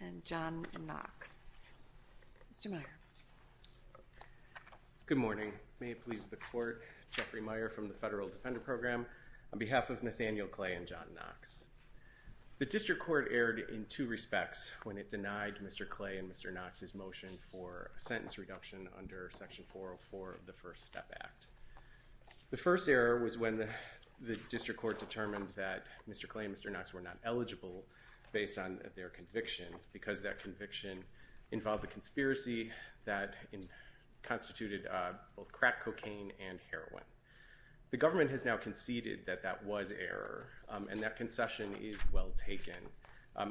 and John Knox. Mr. Meyer. Good morning. May it please the Court, Jeffrey Meyer from the Federal Defender Program on behalf of Nathaniel Clay and John Knox. The District Court erred in two respects when it denied Mr. Clay and Mr. Knox's motion for a sentence reduction under Section 404 of the First Step Act. The first error was when the District Court determined that Mr. Clay and Mr. Knox were not eligible based on their conviction because that conviction involved a conspiracy that constituted both crack cocaine and heroin. The government has now conceded that that was error and that concession is well taken.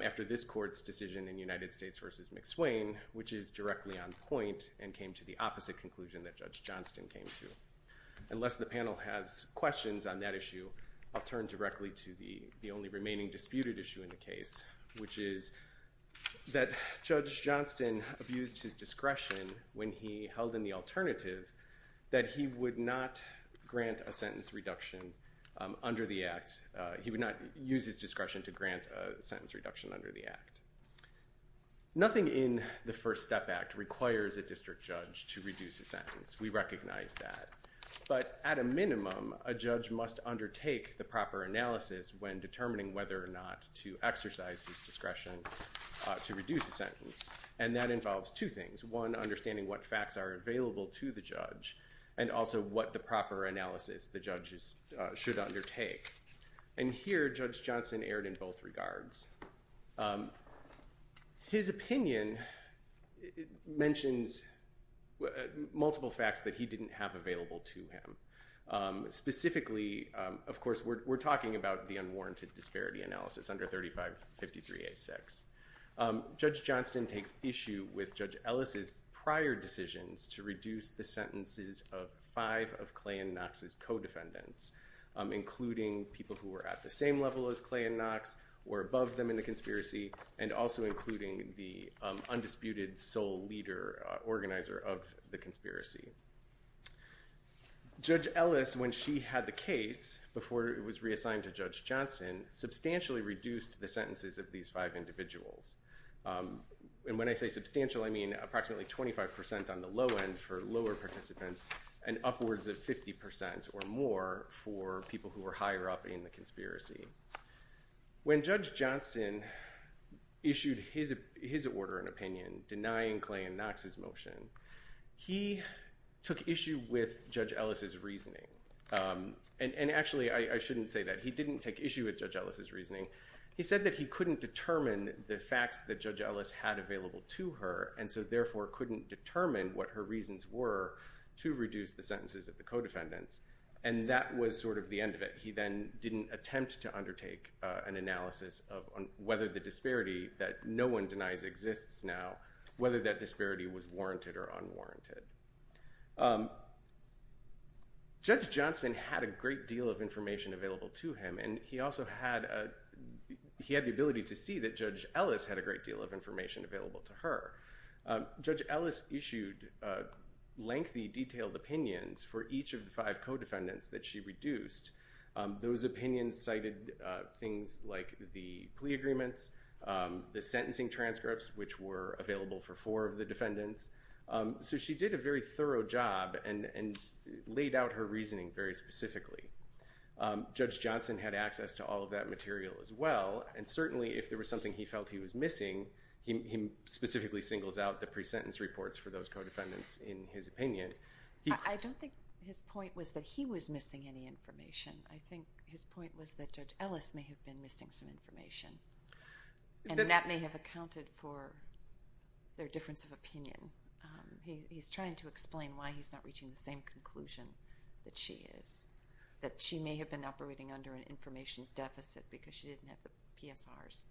After this Court's McSwain, which is directly on point and came to the opposite conclusion that Judge Johnston came to. Unless the panel has questions on that issue, I'll turn directly to the only remaining disputed issue in the case, which is that Judge Johnston abused his discretion when he held in the alternative that he would not grant a sentence reduction under the Act. He would not use his discretion to grant a sentence reduction under the Act. Nothing in the First Step Act requires a district judge to reduce a sentence. We recognize that. But at a minimum, a judge must undertake the proper analysis when determining whether or not to exercise his discretion to reduce a sentence. And that involves two things. One, understanding what facts are available to the judge and also what the proper analysis the judge should undertake. And here, Judge Johnston erred in both regards. His opinion mentions multiple facts that he didn't have available to him. Specifically, of course, we're talking about the unwarranted disparity analysis under 3553A6. Judge Johnston takes issue with Judge Ellis' prior decisions to reduce the sentences of five of Clay and Knox's co-defendants, including people who were at the same level as Clay and Knox or above them in the conspiracy, and also including the undisputed sole leader organizer of the conspiracy. Judge Ellis, when she had the case before it was reassigned to Judge Johnston, substantially reduced the sentences of these five individuals. And when I say substantial, I mean approximately 25% on the low end for lower participants and upwards of 50% or more for people who were higher up in the conspiracy. When Judge Johnston issued his order and opinion denying Clay and Knox's motion, he took issue with Judge Ellis' reasoning. And actually, I shouldn't say that. He didn't take issue with Judge Ellis' reasoning. He said that he couldn't determine what her reasons were to reduce the sentences of the co-defendants. And that was sort of the end of it. He then didn't attempt to undertake an analysis of whether the disparity that no one denies exists now, whether that disparity was warranted or unwarranted. Judge Johnston had a great deal of information available to him, and he also had the ability to see that Judge Ellis had a great deal of information available to her. Judge Ellis issued lengthy, detailed opinions for each of the five co-defendants that she reduced. Those opinions cited things like the plea agreements, the sentencing transcripts, which were available for four of the defendants. So she did a very thorough job and laid out her reasoning very specifically. Judge Johnston had access to all of that material as well, and certainly if there was something he felt he was missing, he specifically singles out the pre-sentence reports for those co-defendants in his opinion. I don't think his point was that he was missing any information. I think his point was that Judge Ellis may have been missing some information. And that may have accounted for their difference of opinion. He's trying to explain why he's not reaching the same conclusion that she is. That she may have been operating under an information deficit because she didn't have the PSRs.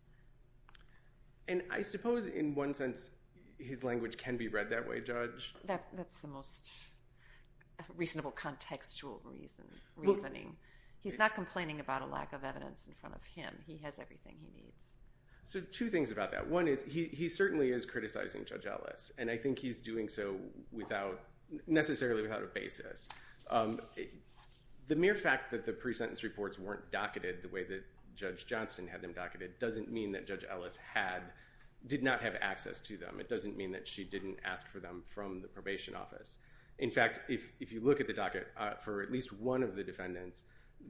And I suppose in one sense his language can be read that way, Judge? That's the most reasonable contextual reasoning. He's not complaining about a lack of evidence in front of him. He has everything he needs. So two things about that. One is he certainly is criticizing Judge Ellis, and I think he's doing so necessarily without a basis. The mere fact that the pre-sentence reports weren't docketed the way that Judge Johnston had them docketed doesn't mean that Judge Ellis did not have access to them. It doesn't mean that she didn't ask for them from the probation office. In fact, if you look at the docket for at least one of the defendants,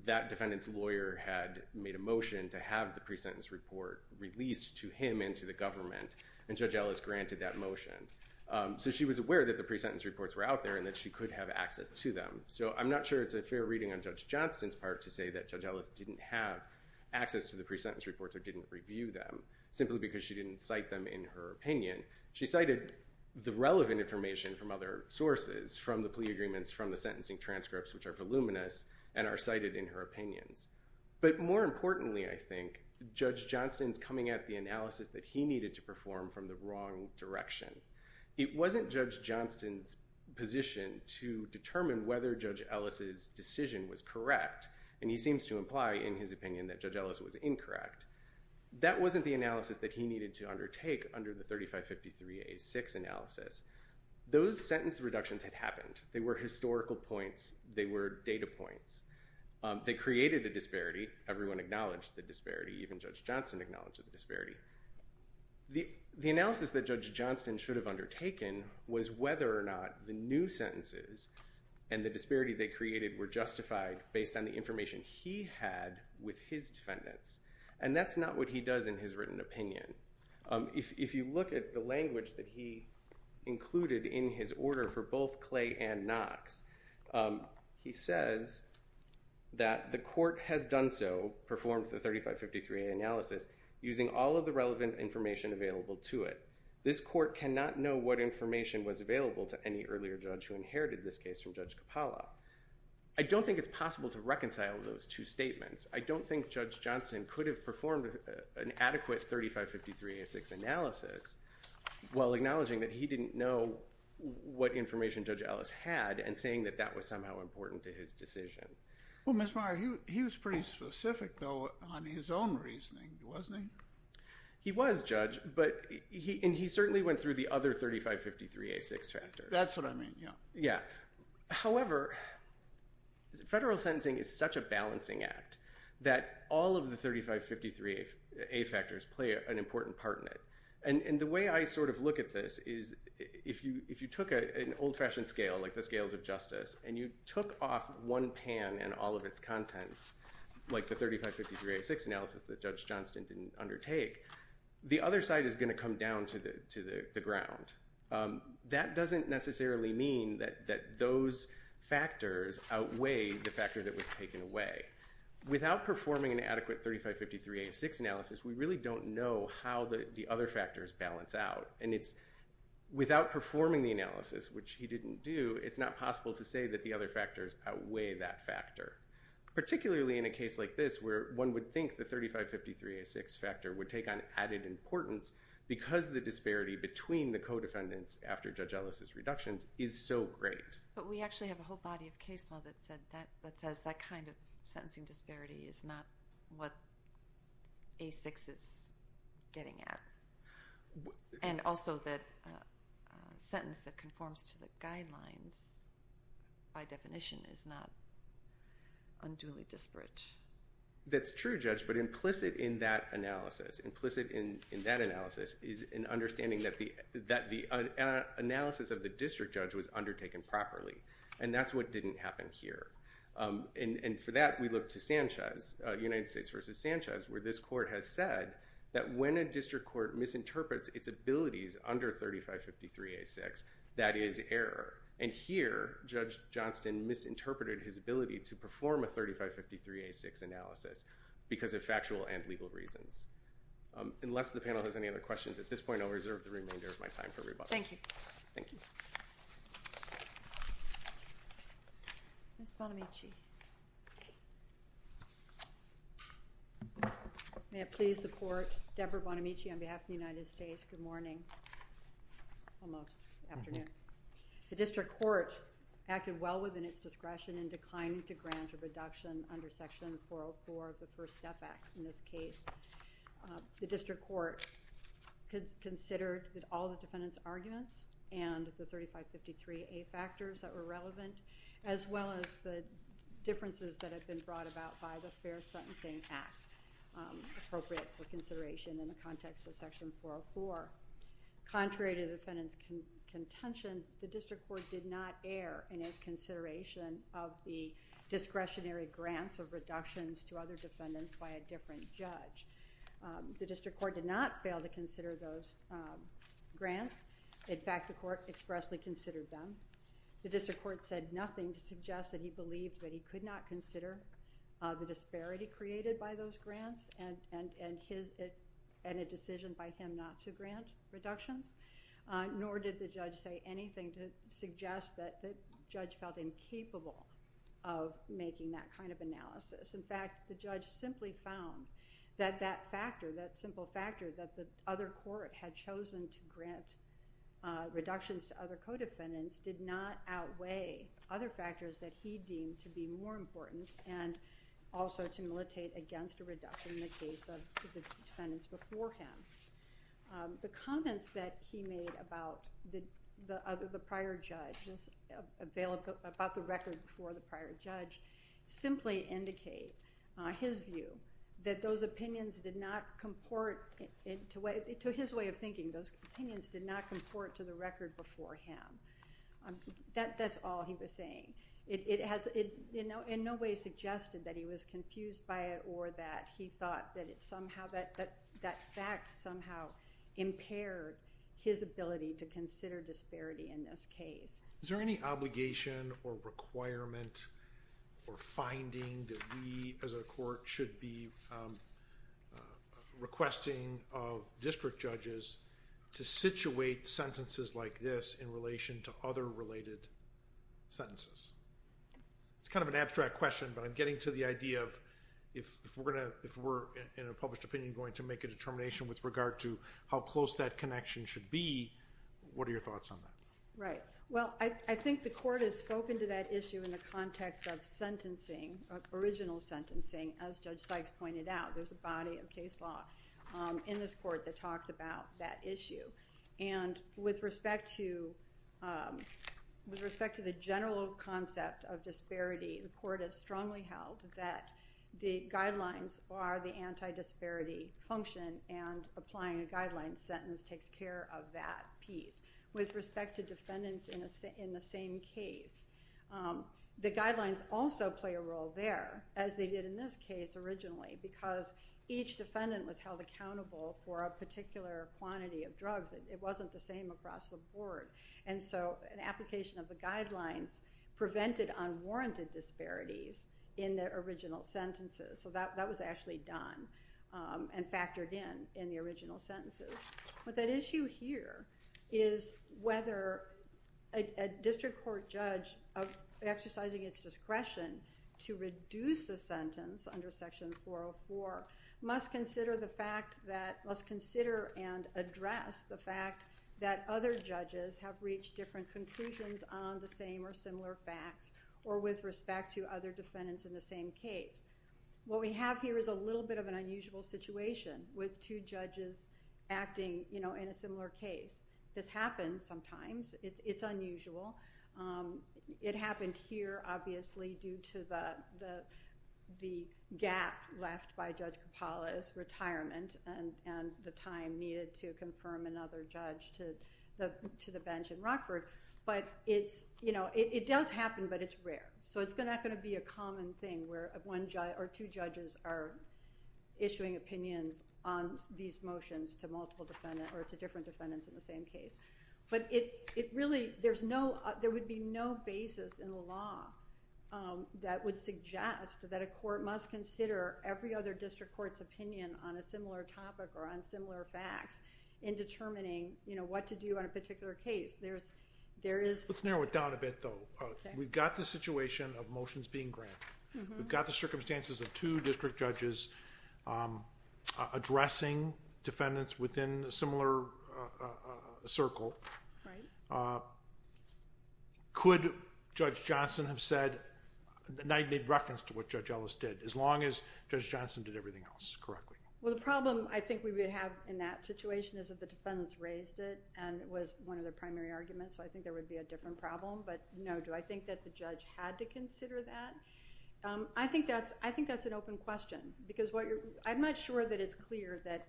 that defendant's lawyer had made a motion to have the pre-sentence report released to him and to the government, and Judge Ellis granted that motion. So she was aware that the pre-sentence reports were out there and that she could have access to them. So I'm not sure it's a fair reading on Judge Johnston's part to say that Judge Ellis didn't have access to the pre-sentence reports or didn't review them, simply because she didn't cite them in her opinion. She cited the relevant information from other sources, from the plea agreements, from the sentencing transcripts, which are voluminous and are cited in her opinions. But more importantly, I think, Judge Johnston's coming at the analysis that he needed to perform, from the wrong direction. It wasn't Judge Johnston's position to determine whether Judge Ellis's decision was correct, and he seems to imply in his opinion that Judge Ellis was incorrect. That wasn't the analysis that he needed to undertake under the 3553A6 analysis. Those sentence reductions had happened. They were historical points. They were data points. They created a disparity. Everyone acknowledged the disparity. Even Judge Johnston acknowledged the disparity. The analysis that Judge Johnston should have undertaken was whether or not the new sentences and the disparity they created were justified based on the information he had with his defendants. And that's not what he does in his written opinion. If you look at the language that he included in his order for both Clay and Knox, he says that the court has done so, performed the 3553A analysis using all of the relevant information available to it. This court cannot know what information was available to any earlier judge who inherited this case from Judge Capalla. I don't think it's possible to reconcile those two statements. I don't think Judge Johnston could have performed an adequate 3553A6 analysis while acknowledging that he didn't know what information Judge Ellis had and saying that that was somehow important to his decision. Well, Mr. Meyer, he was pretty specific, though, on his own reasoning, wasn't he? He was, Judge. And he certainly went through the other 3553A6 factors. That's what I mean, yeah. However, federal sentencing is such a balancing act that all of the 3553A factors play an important part in it. And the way I sort of look at this is if you took an old-fashioned scale, like the scales of justice, and you took off one pan and all of its contents, like the 3553A6 analysis that Judge Johnston didn't undertake, the other side is going to come down to the ground. That doesn't necessarily mean that those factors outweigh the factor that was taken away. Without performing an adequate 3553A6 analysis, we really don't know how the other factors balance out. And it's without performing the analysis, which he didn't do, it's not possible to say that the other factors outweigh that factor. Particularly in a case like this, where one would think the 3553A6 factor would take on added importance because the disparity between the co-defendants after Judge Ellis' reductions is so great. But we actually have a whole body of case law that says that kind of sentencing disparity is not what A6 is getting at. And also that a sentence that conforms to the code of conduct guidelines, by definition, is not unduly disparate. That's true, Judge, but implicit in that analysis, implicit in that analysis, is an understanding that the analysis of the district judge was undertaken properly. And that's what didn't happen here. And for that, we look to Sanchez, United States v. Sanchez, where this court has said that when a district court misinterprets its abilities under 3553A6, that is error. And here, Judge Johnston misinterpreted his ability to perform a 3553A6 analysis because of factual and legal reasons. Unless the panel has any other questions, at this point I'll reserve the remainder of my time for rebuttal. And I please the court, Deborah Bonamici on behalf of the United States, good morning. Almost afternoon. The district court acted well within its discretion in declining to grant a reduction under Section 404 of the First Step Act in this case. The district court considered all the defendant's arguments and the 3553A factors that were relevant, as well as the differences that have been brought about by the Fair Sentencing Act appropriate for consideration in the context of Section 404. Contrary to the defendant's contention, the district court did not err in its consideration of the discretionary grants of reductions to other defendants by a different judge. The district court did not fail to consider those grants. In fact, the court expressly considered them. The district court said nothing to suggest that he believed that he could not consider the disparity created by those grants and a decision by him not to grant reductions, nor did the judge say anything to suggest that the judge felt incapable of making that kind of analysis. In fact, the district court had chosen to grant reductions to other co-defendants did not outweigh other factors that he deemed to be more important and also to militate against a reduction in the case of the defendants before him. The comments that he made about the prior judge, about the record before the prior judge, simply indicate his view that those opinions did not comport to his way of thinking. Those opinions did not comport to the record before him. That's all he was saying. It has in no way suggested that he was confused by it or that he thought that somehow that fact somehow impaired his ability to consider disparity in this case. Is there any obligation or requirement or finding that we, as a court, should be requesting of district judges to situate sentences like this in relation to other related sentences? It's kind of an abstract question, but I'm getting to the idea of if we're in a published opinion going to make a determination with regard to how close that connection should be, what are your thoughts on that? Right. Well, I think the court has spoken to that issue in the context of sentencing, of original sentencing, as Judge Sykes pointed out. There's a body of case law in this court that talks about that issue. With respect to the general concept of disparity, the court has strongly held that the guidelines are the anti-disparity function and applying a guideline sentence takes care of that piece. With respect to defendants in the same case, the guidelines also play a role there, as they did in this case originally, because each defendant was held accountable for a particular quantity of drugs. It wasn't the same across the board. And so an application of the guidelines prevented unwarranted disparities in their original sentences. So that was actually done and factored in in the original sentences. But that issue here is whether a district court judge exercising its discretion to reduce a sentence under Section 404 must consider and address the fact that other judges have reached different conclusions on the same or similar facts or with respect to other defendants in the same case. What we have here is a little bit of an unusual situation with two judges acting in a similar case. This happens sometimes. It's unusual. It happened here, obviously, due to the gap left by Judge Coppola's retirement and the time needed to confirm another judge to the bench in Rockford. But it does happen, but it's rare. So it's not going to be a common thing where two judges are issuing opinions on these motions to multiple defendants or to different defendants in the same case. But it really, there would be no basis in the law that would suggest that a court must consider every other district court's opinion on a similar topic or on similar facts in determining what to do on a particular case. There is... Let's narrow it down a bit, though. We've got the situation of motions being granted. We've got the circumstances of two district judges addressing defendants within a similar circle. Right. Could Judge Johnson have said, made reference to what Judge Ellis did, as long as Judge Johnson did everything else correctly? Well, the problem I think we would have in that situation is that the defendants raised it and it was one of their primary arguments, so I think there would be a different problem. But no, do I think that the judge had to consider that? I think that's an open question, because I'm not sure that it's clear that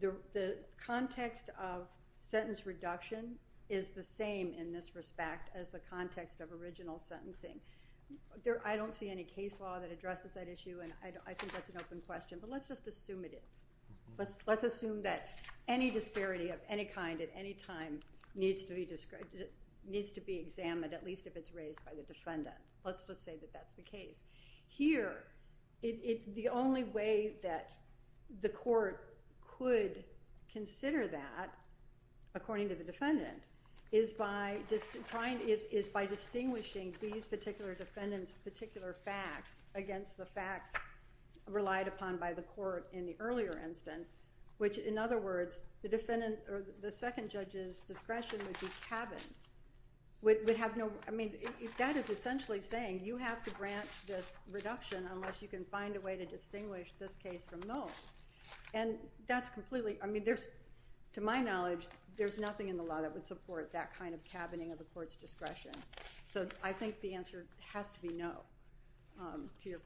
the context of sentence reduction is the same in this respect as the context of original sentencing. I don't see any case law that addresses that issue, and I think that's an open question. But let's just assume it is. Let's assume that any disparity of any kind at any time needs to be examined, at least if it's raised by the defendant. Let's just say that that's the case. Here, the only way that the court could consider that, according to the defendant, is by distinguishing these particular defendants' particular facts against the facts relied upon by the court in the earlier instance, which, in other words, the second judge's discretion would be cabined. That is essentially saying, you have to grant this reduction unless you can find a way to distinguish this case from those. And that's completely—I mean, to my knowledge, there's nothing in the law that would support that kind of cabining of the court's discretion. So I think the answer has to be no to your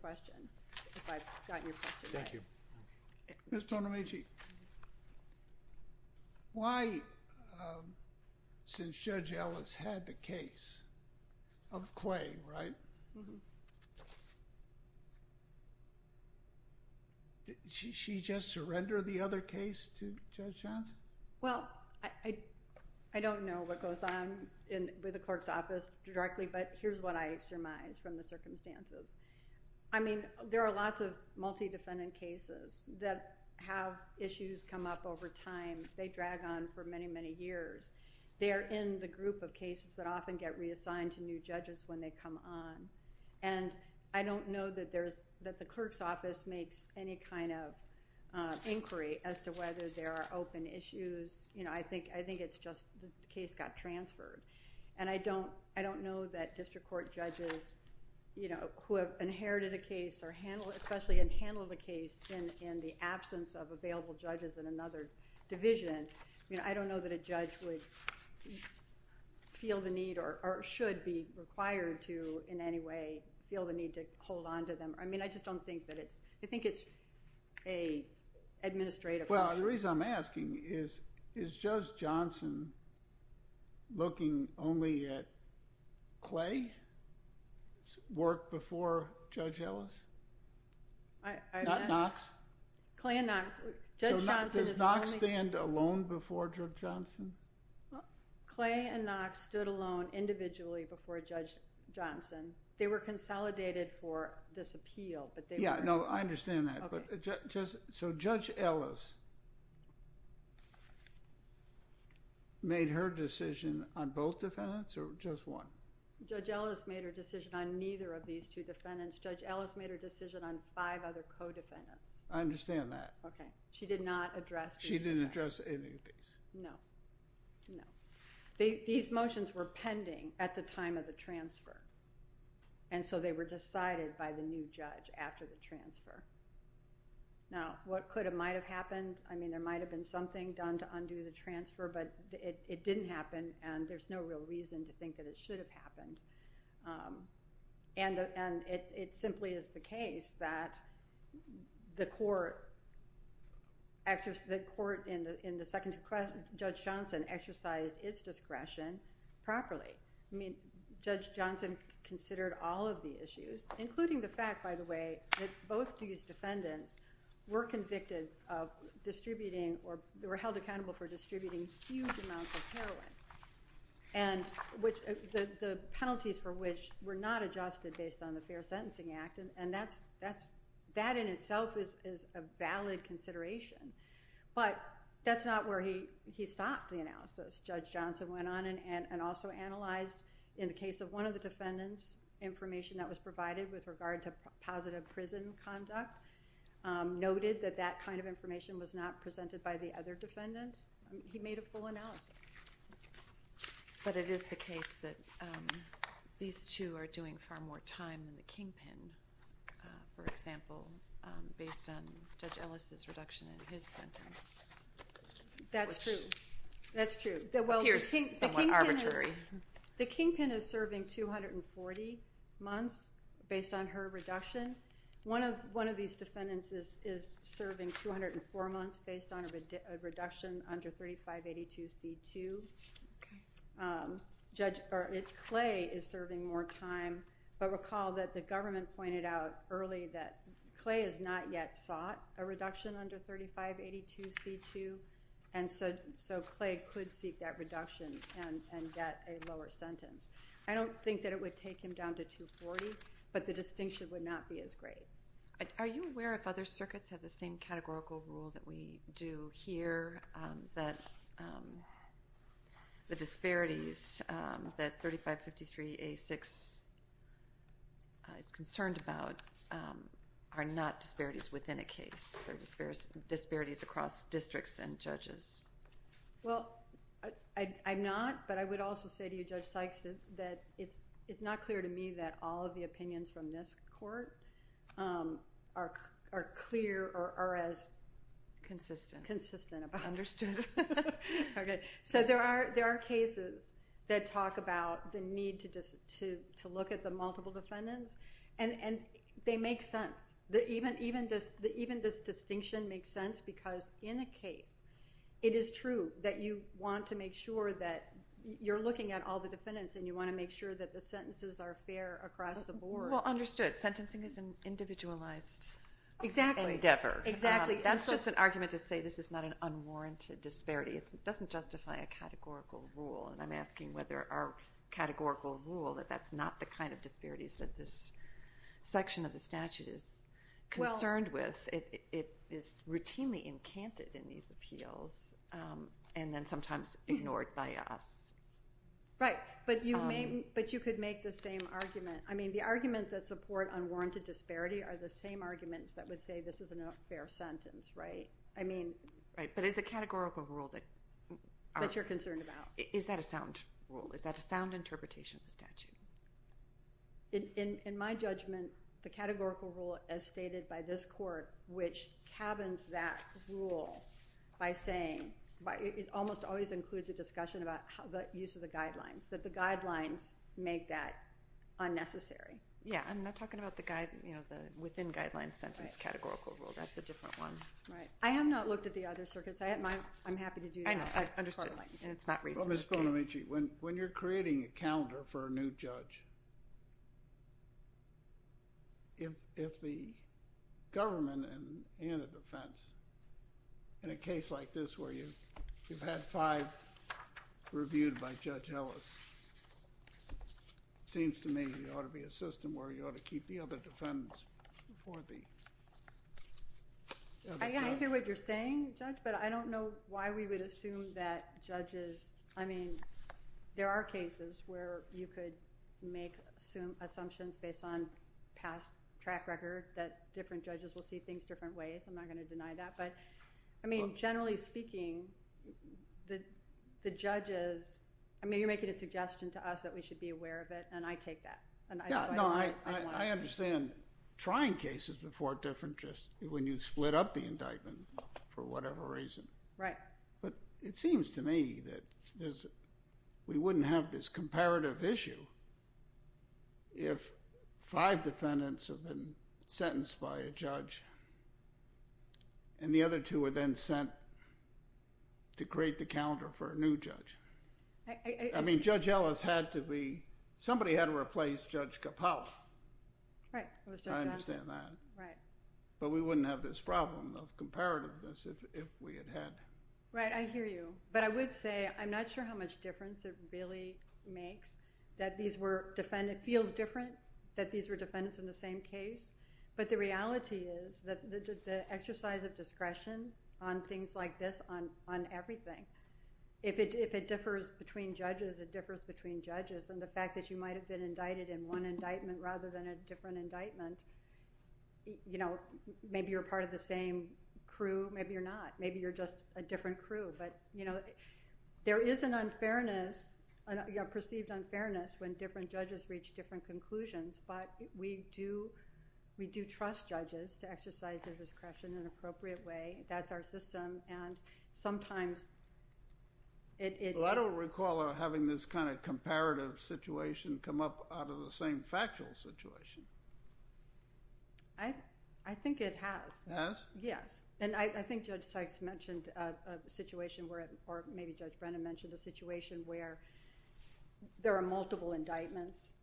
Why, since Judge Ellis had the case of Clay, right, did she just surrender the other case to Judge Johnson? Well, I don't know what goes on in the clerk's office directly, but here's what I surmise from the circumstances. I mean, there are lots of multi-defendant cases that have issues come up over time. They drag on for many, many years. They are in the group of cases that often get reassigned to new judges when they come on. And I don't know that the clerk's office makes any kind of inquiry as to whether there are open issues. You know, I think it's just the case got transferred. And I don't know that a judge would feel the need or should be required to in any way feel the need to hold on to them. I mean, I just don't think that it's—I think it's an administrative Well, the reason I'm asking is, is Judge Johnson looking only at Clay's work before Judge Ellis? Not Knox? Clay and Knox. Judge Johnson is only— So does Knox stand alone before Judge Johnson? Clay and Knox stood alone individually before Judge Johnson. They were consolidated for this appeal, but they were— Yeah, no, I understand that. So Judge Ellis made her decision on both defendants or just one? Judge Ellis made her decision on neither of the five other co-defendants. I understand that. She did not address— She didn't address any of these. No, no. These motions were pending at the time of the transfer. And so they were decided by the new judge after the transfer. Now, what could have—might have—happened? I mean, there might have been something done to undo the transfer, but it didn't happen, and there's no real reason to think that it should have happened. And it simply is the case that the court—actually, the court in the second—Judge Johnson exercised its discretion properly. I mean, Judge Johnson considered all of the issues, including the fact, by the way, that both these defendants were convicted of distributing or were held accountable for distributing huge amounts of heroin, and which—the penalties for which were not adjusted based on the Fair Sentencing Act, and that's—that in itself is a valid consideration. But that's not where he stopped the analysis. Judge Johnson went on and also analyzed in the case of one of the defendants, information that was provided with regard to positive prison conduct, noted that that kind of information was not presented by the other defendant. He made a full analysis. But it is the case that these two defendants, who are doing far more time than the kingpin, for example, based on Judge Ellis' reduction in his sentence. That's true. That's true. It appears somewhat arbitrary. The kingpin is serving 240 months based on her reduction. One of these defendants is serving 204 months based on a reduction under 3582C2. Okay. Judge—or Clay is serving more time than the kingpin is serving more time. But recall that the government pointed out early that Clay has not yet sought a reduction under 3582C2, and so Clay could seek that reduction and get a lower sentence. I don't think that it would take him down to 240, but the distinction would not be as great. Are you aware if other circuits have the same categorical rule that we do here, that the disparities that 3553A6C2 and 3583A6C2 have in terms of the number of cases that the court is concerned about are not disparities within a case? They're disparities across districts and judges. Well, I'm not, but I would also say to you, Judge Sykes, that it's not clear to me that all of the opinions from this court are clear or are as consistent about it. Understood. Okay. So there are cases that talk about the need to look at the multiple defendants, and they make sense. Even this distinction makes sense because in a case, it is true that you want to make sure that you're looking at all the defendants and you want to make sure that the sentences are fair across the board. Well, understood. Sentencing is an individualized endeavor. Exactly. That's just an argument to say this is not an unwarranted disparity. It doesn't justify a categorical rule, and I'm asking whether our categorical rule that that's not the kind of disparities that this section of the statute is concerned with. It is routinely encanted in these appeals, and then sometimes ignored by us. Right, but you could make the same argument. I mean, the arguments that support unwarranted disparity are the same arguments that would say this is a not fair sentence, right? Right, but it's a categorical rule that you're concerned about. Is that a sound rule? Is that a sound interpretation of the statute? In my judgment, the categorical rule as stated by this court, which cabins that rule by saying, it almost always includes a discussion about the use of the guidelines, that the guidelines make that unnecessary. Yeah, I'm not talking about the within guidelines sentence categorical rule. That's a different one. Right. I have not looked at the other circuits. I'm happy to do that. I've understood, and it's not raised in this case. Well, Ms. Bonamici, when you're creating a calendar for a new judge, if the government and the defense, in a case like this where you've had five reviewed by Judge Ellis, it seems to me there ought to be a system where you ought to keep the other defendants before the judge. I hear what you're saying, Judge, but I don't know why we would assume that judges, I mean, there are cases where you could make assumptions based on past track record that different judges will see things different ways. I'm not going to deny that, but I mean, generally speaking, the judges, I mean, you're making a suggestion to us that we should be aware of it, and I take that. No, I understand trying cases before a different, just when you split up the indictment, for whatever reason. Right. But it seems to me that we wouldn't have this comparative issue if five defendants have been sentenced by a judge, and the other two are then sent to create the calendar for a new judge. I mean, Judge Ellis had to be, somebody had to replace Judge Capel. Right, it was Judge Ellis. I understand that. Right. But we wouldn't have this problem of comparativeness if we had had. Right, I hear you, but I would say I'm not sure how much difference it really makes that these were, it feels different that these were defendants in the same case, but the reality is that the exercise of discretion on things like this on everything, if it differs between judges, it differs between judges, and the fact that you might have been indicted in one indictment rather than a different part of the same crew, maybe you're not. Maybe you're just a different crew, but there is an unfairness, a perceived unfairness when different judges reach different conclusions, but we do trust judges to exercise their discretion in an appropriate way. That's our system, and sometimes it... Well, I don't recall having this kind of comparative situation come up out of the same factual situation. I think it has. Has? Yes, and I think Judge Sykes mentioned a situation where, or maybe Judge Brennan mentioned a situation where there are multiple indictments,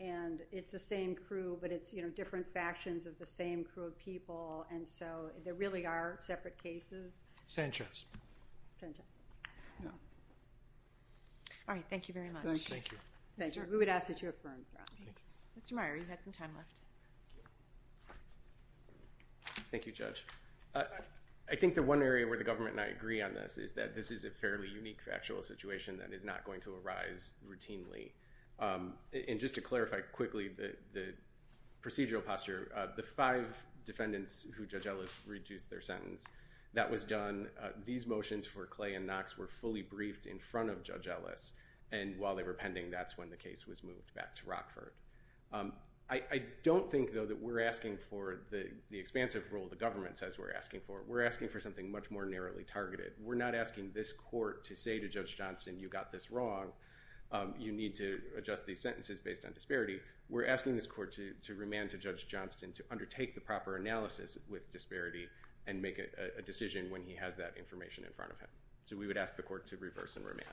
and it's the same crew, but it's different factions of the same crew of people, and so there really are separate cases. Sanchez. Sanchez. All right, thank you very much. Thank you. Thank you. We would ask that you affirm your opinions. Mr. Meyer, you had some time left. Thank you, Judge. I think the one area where the government and I agree on this is that this is a fairly unique factual situation that is not going to arise routinely, and just to clarify quickly the procedural posture, the five defendants who Judge Ellis reduced their sentence, that was done, these motions for Clay and Knox were fully briefed in front of Judge Ellis, and while they were pending, that's when the case was moved back to Rockford. I don't think, though, that we're asking for the expansive role the government says we're asking for. We're asking for something much more narrowly targeted. We're not asking this court to say to Judge Johnston, you got this wrong, you need to adjust these sentences based on disparity. We're asking this court to remand to Judge Johnston to undertake the proper analysis with disparity and make a decision when he has that information in front of him. So we would ask the court to reverse and remand.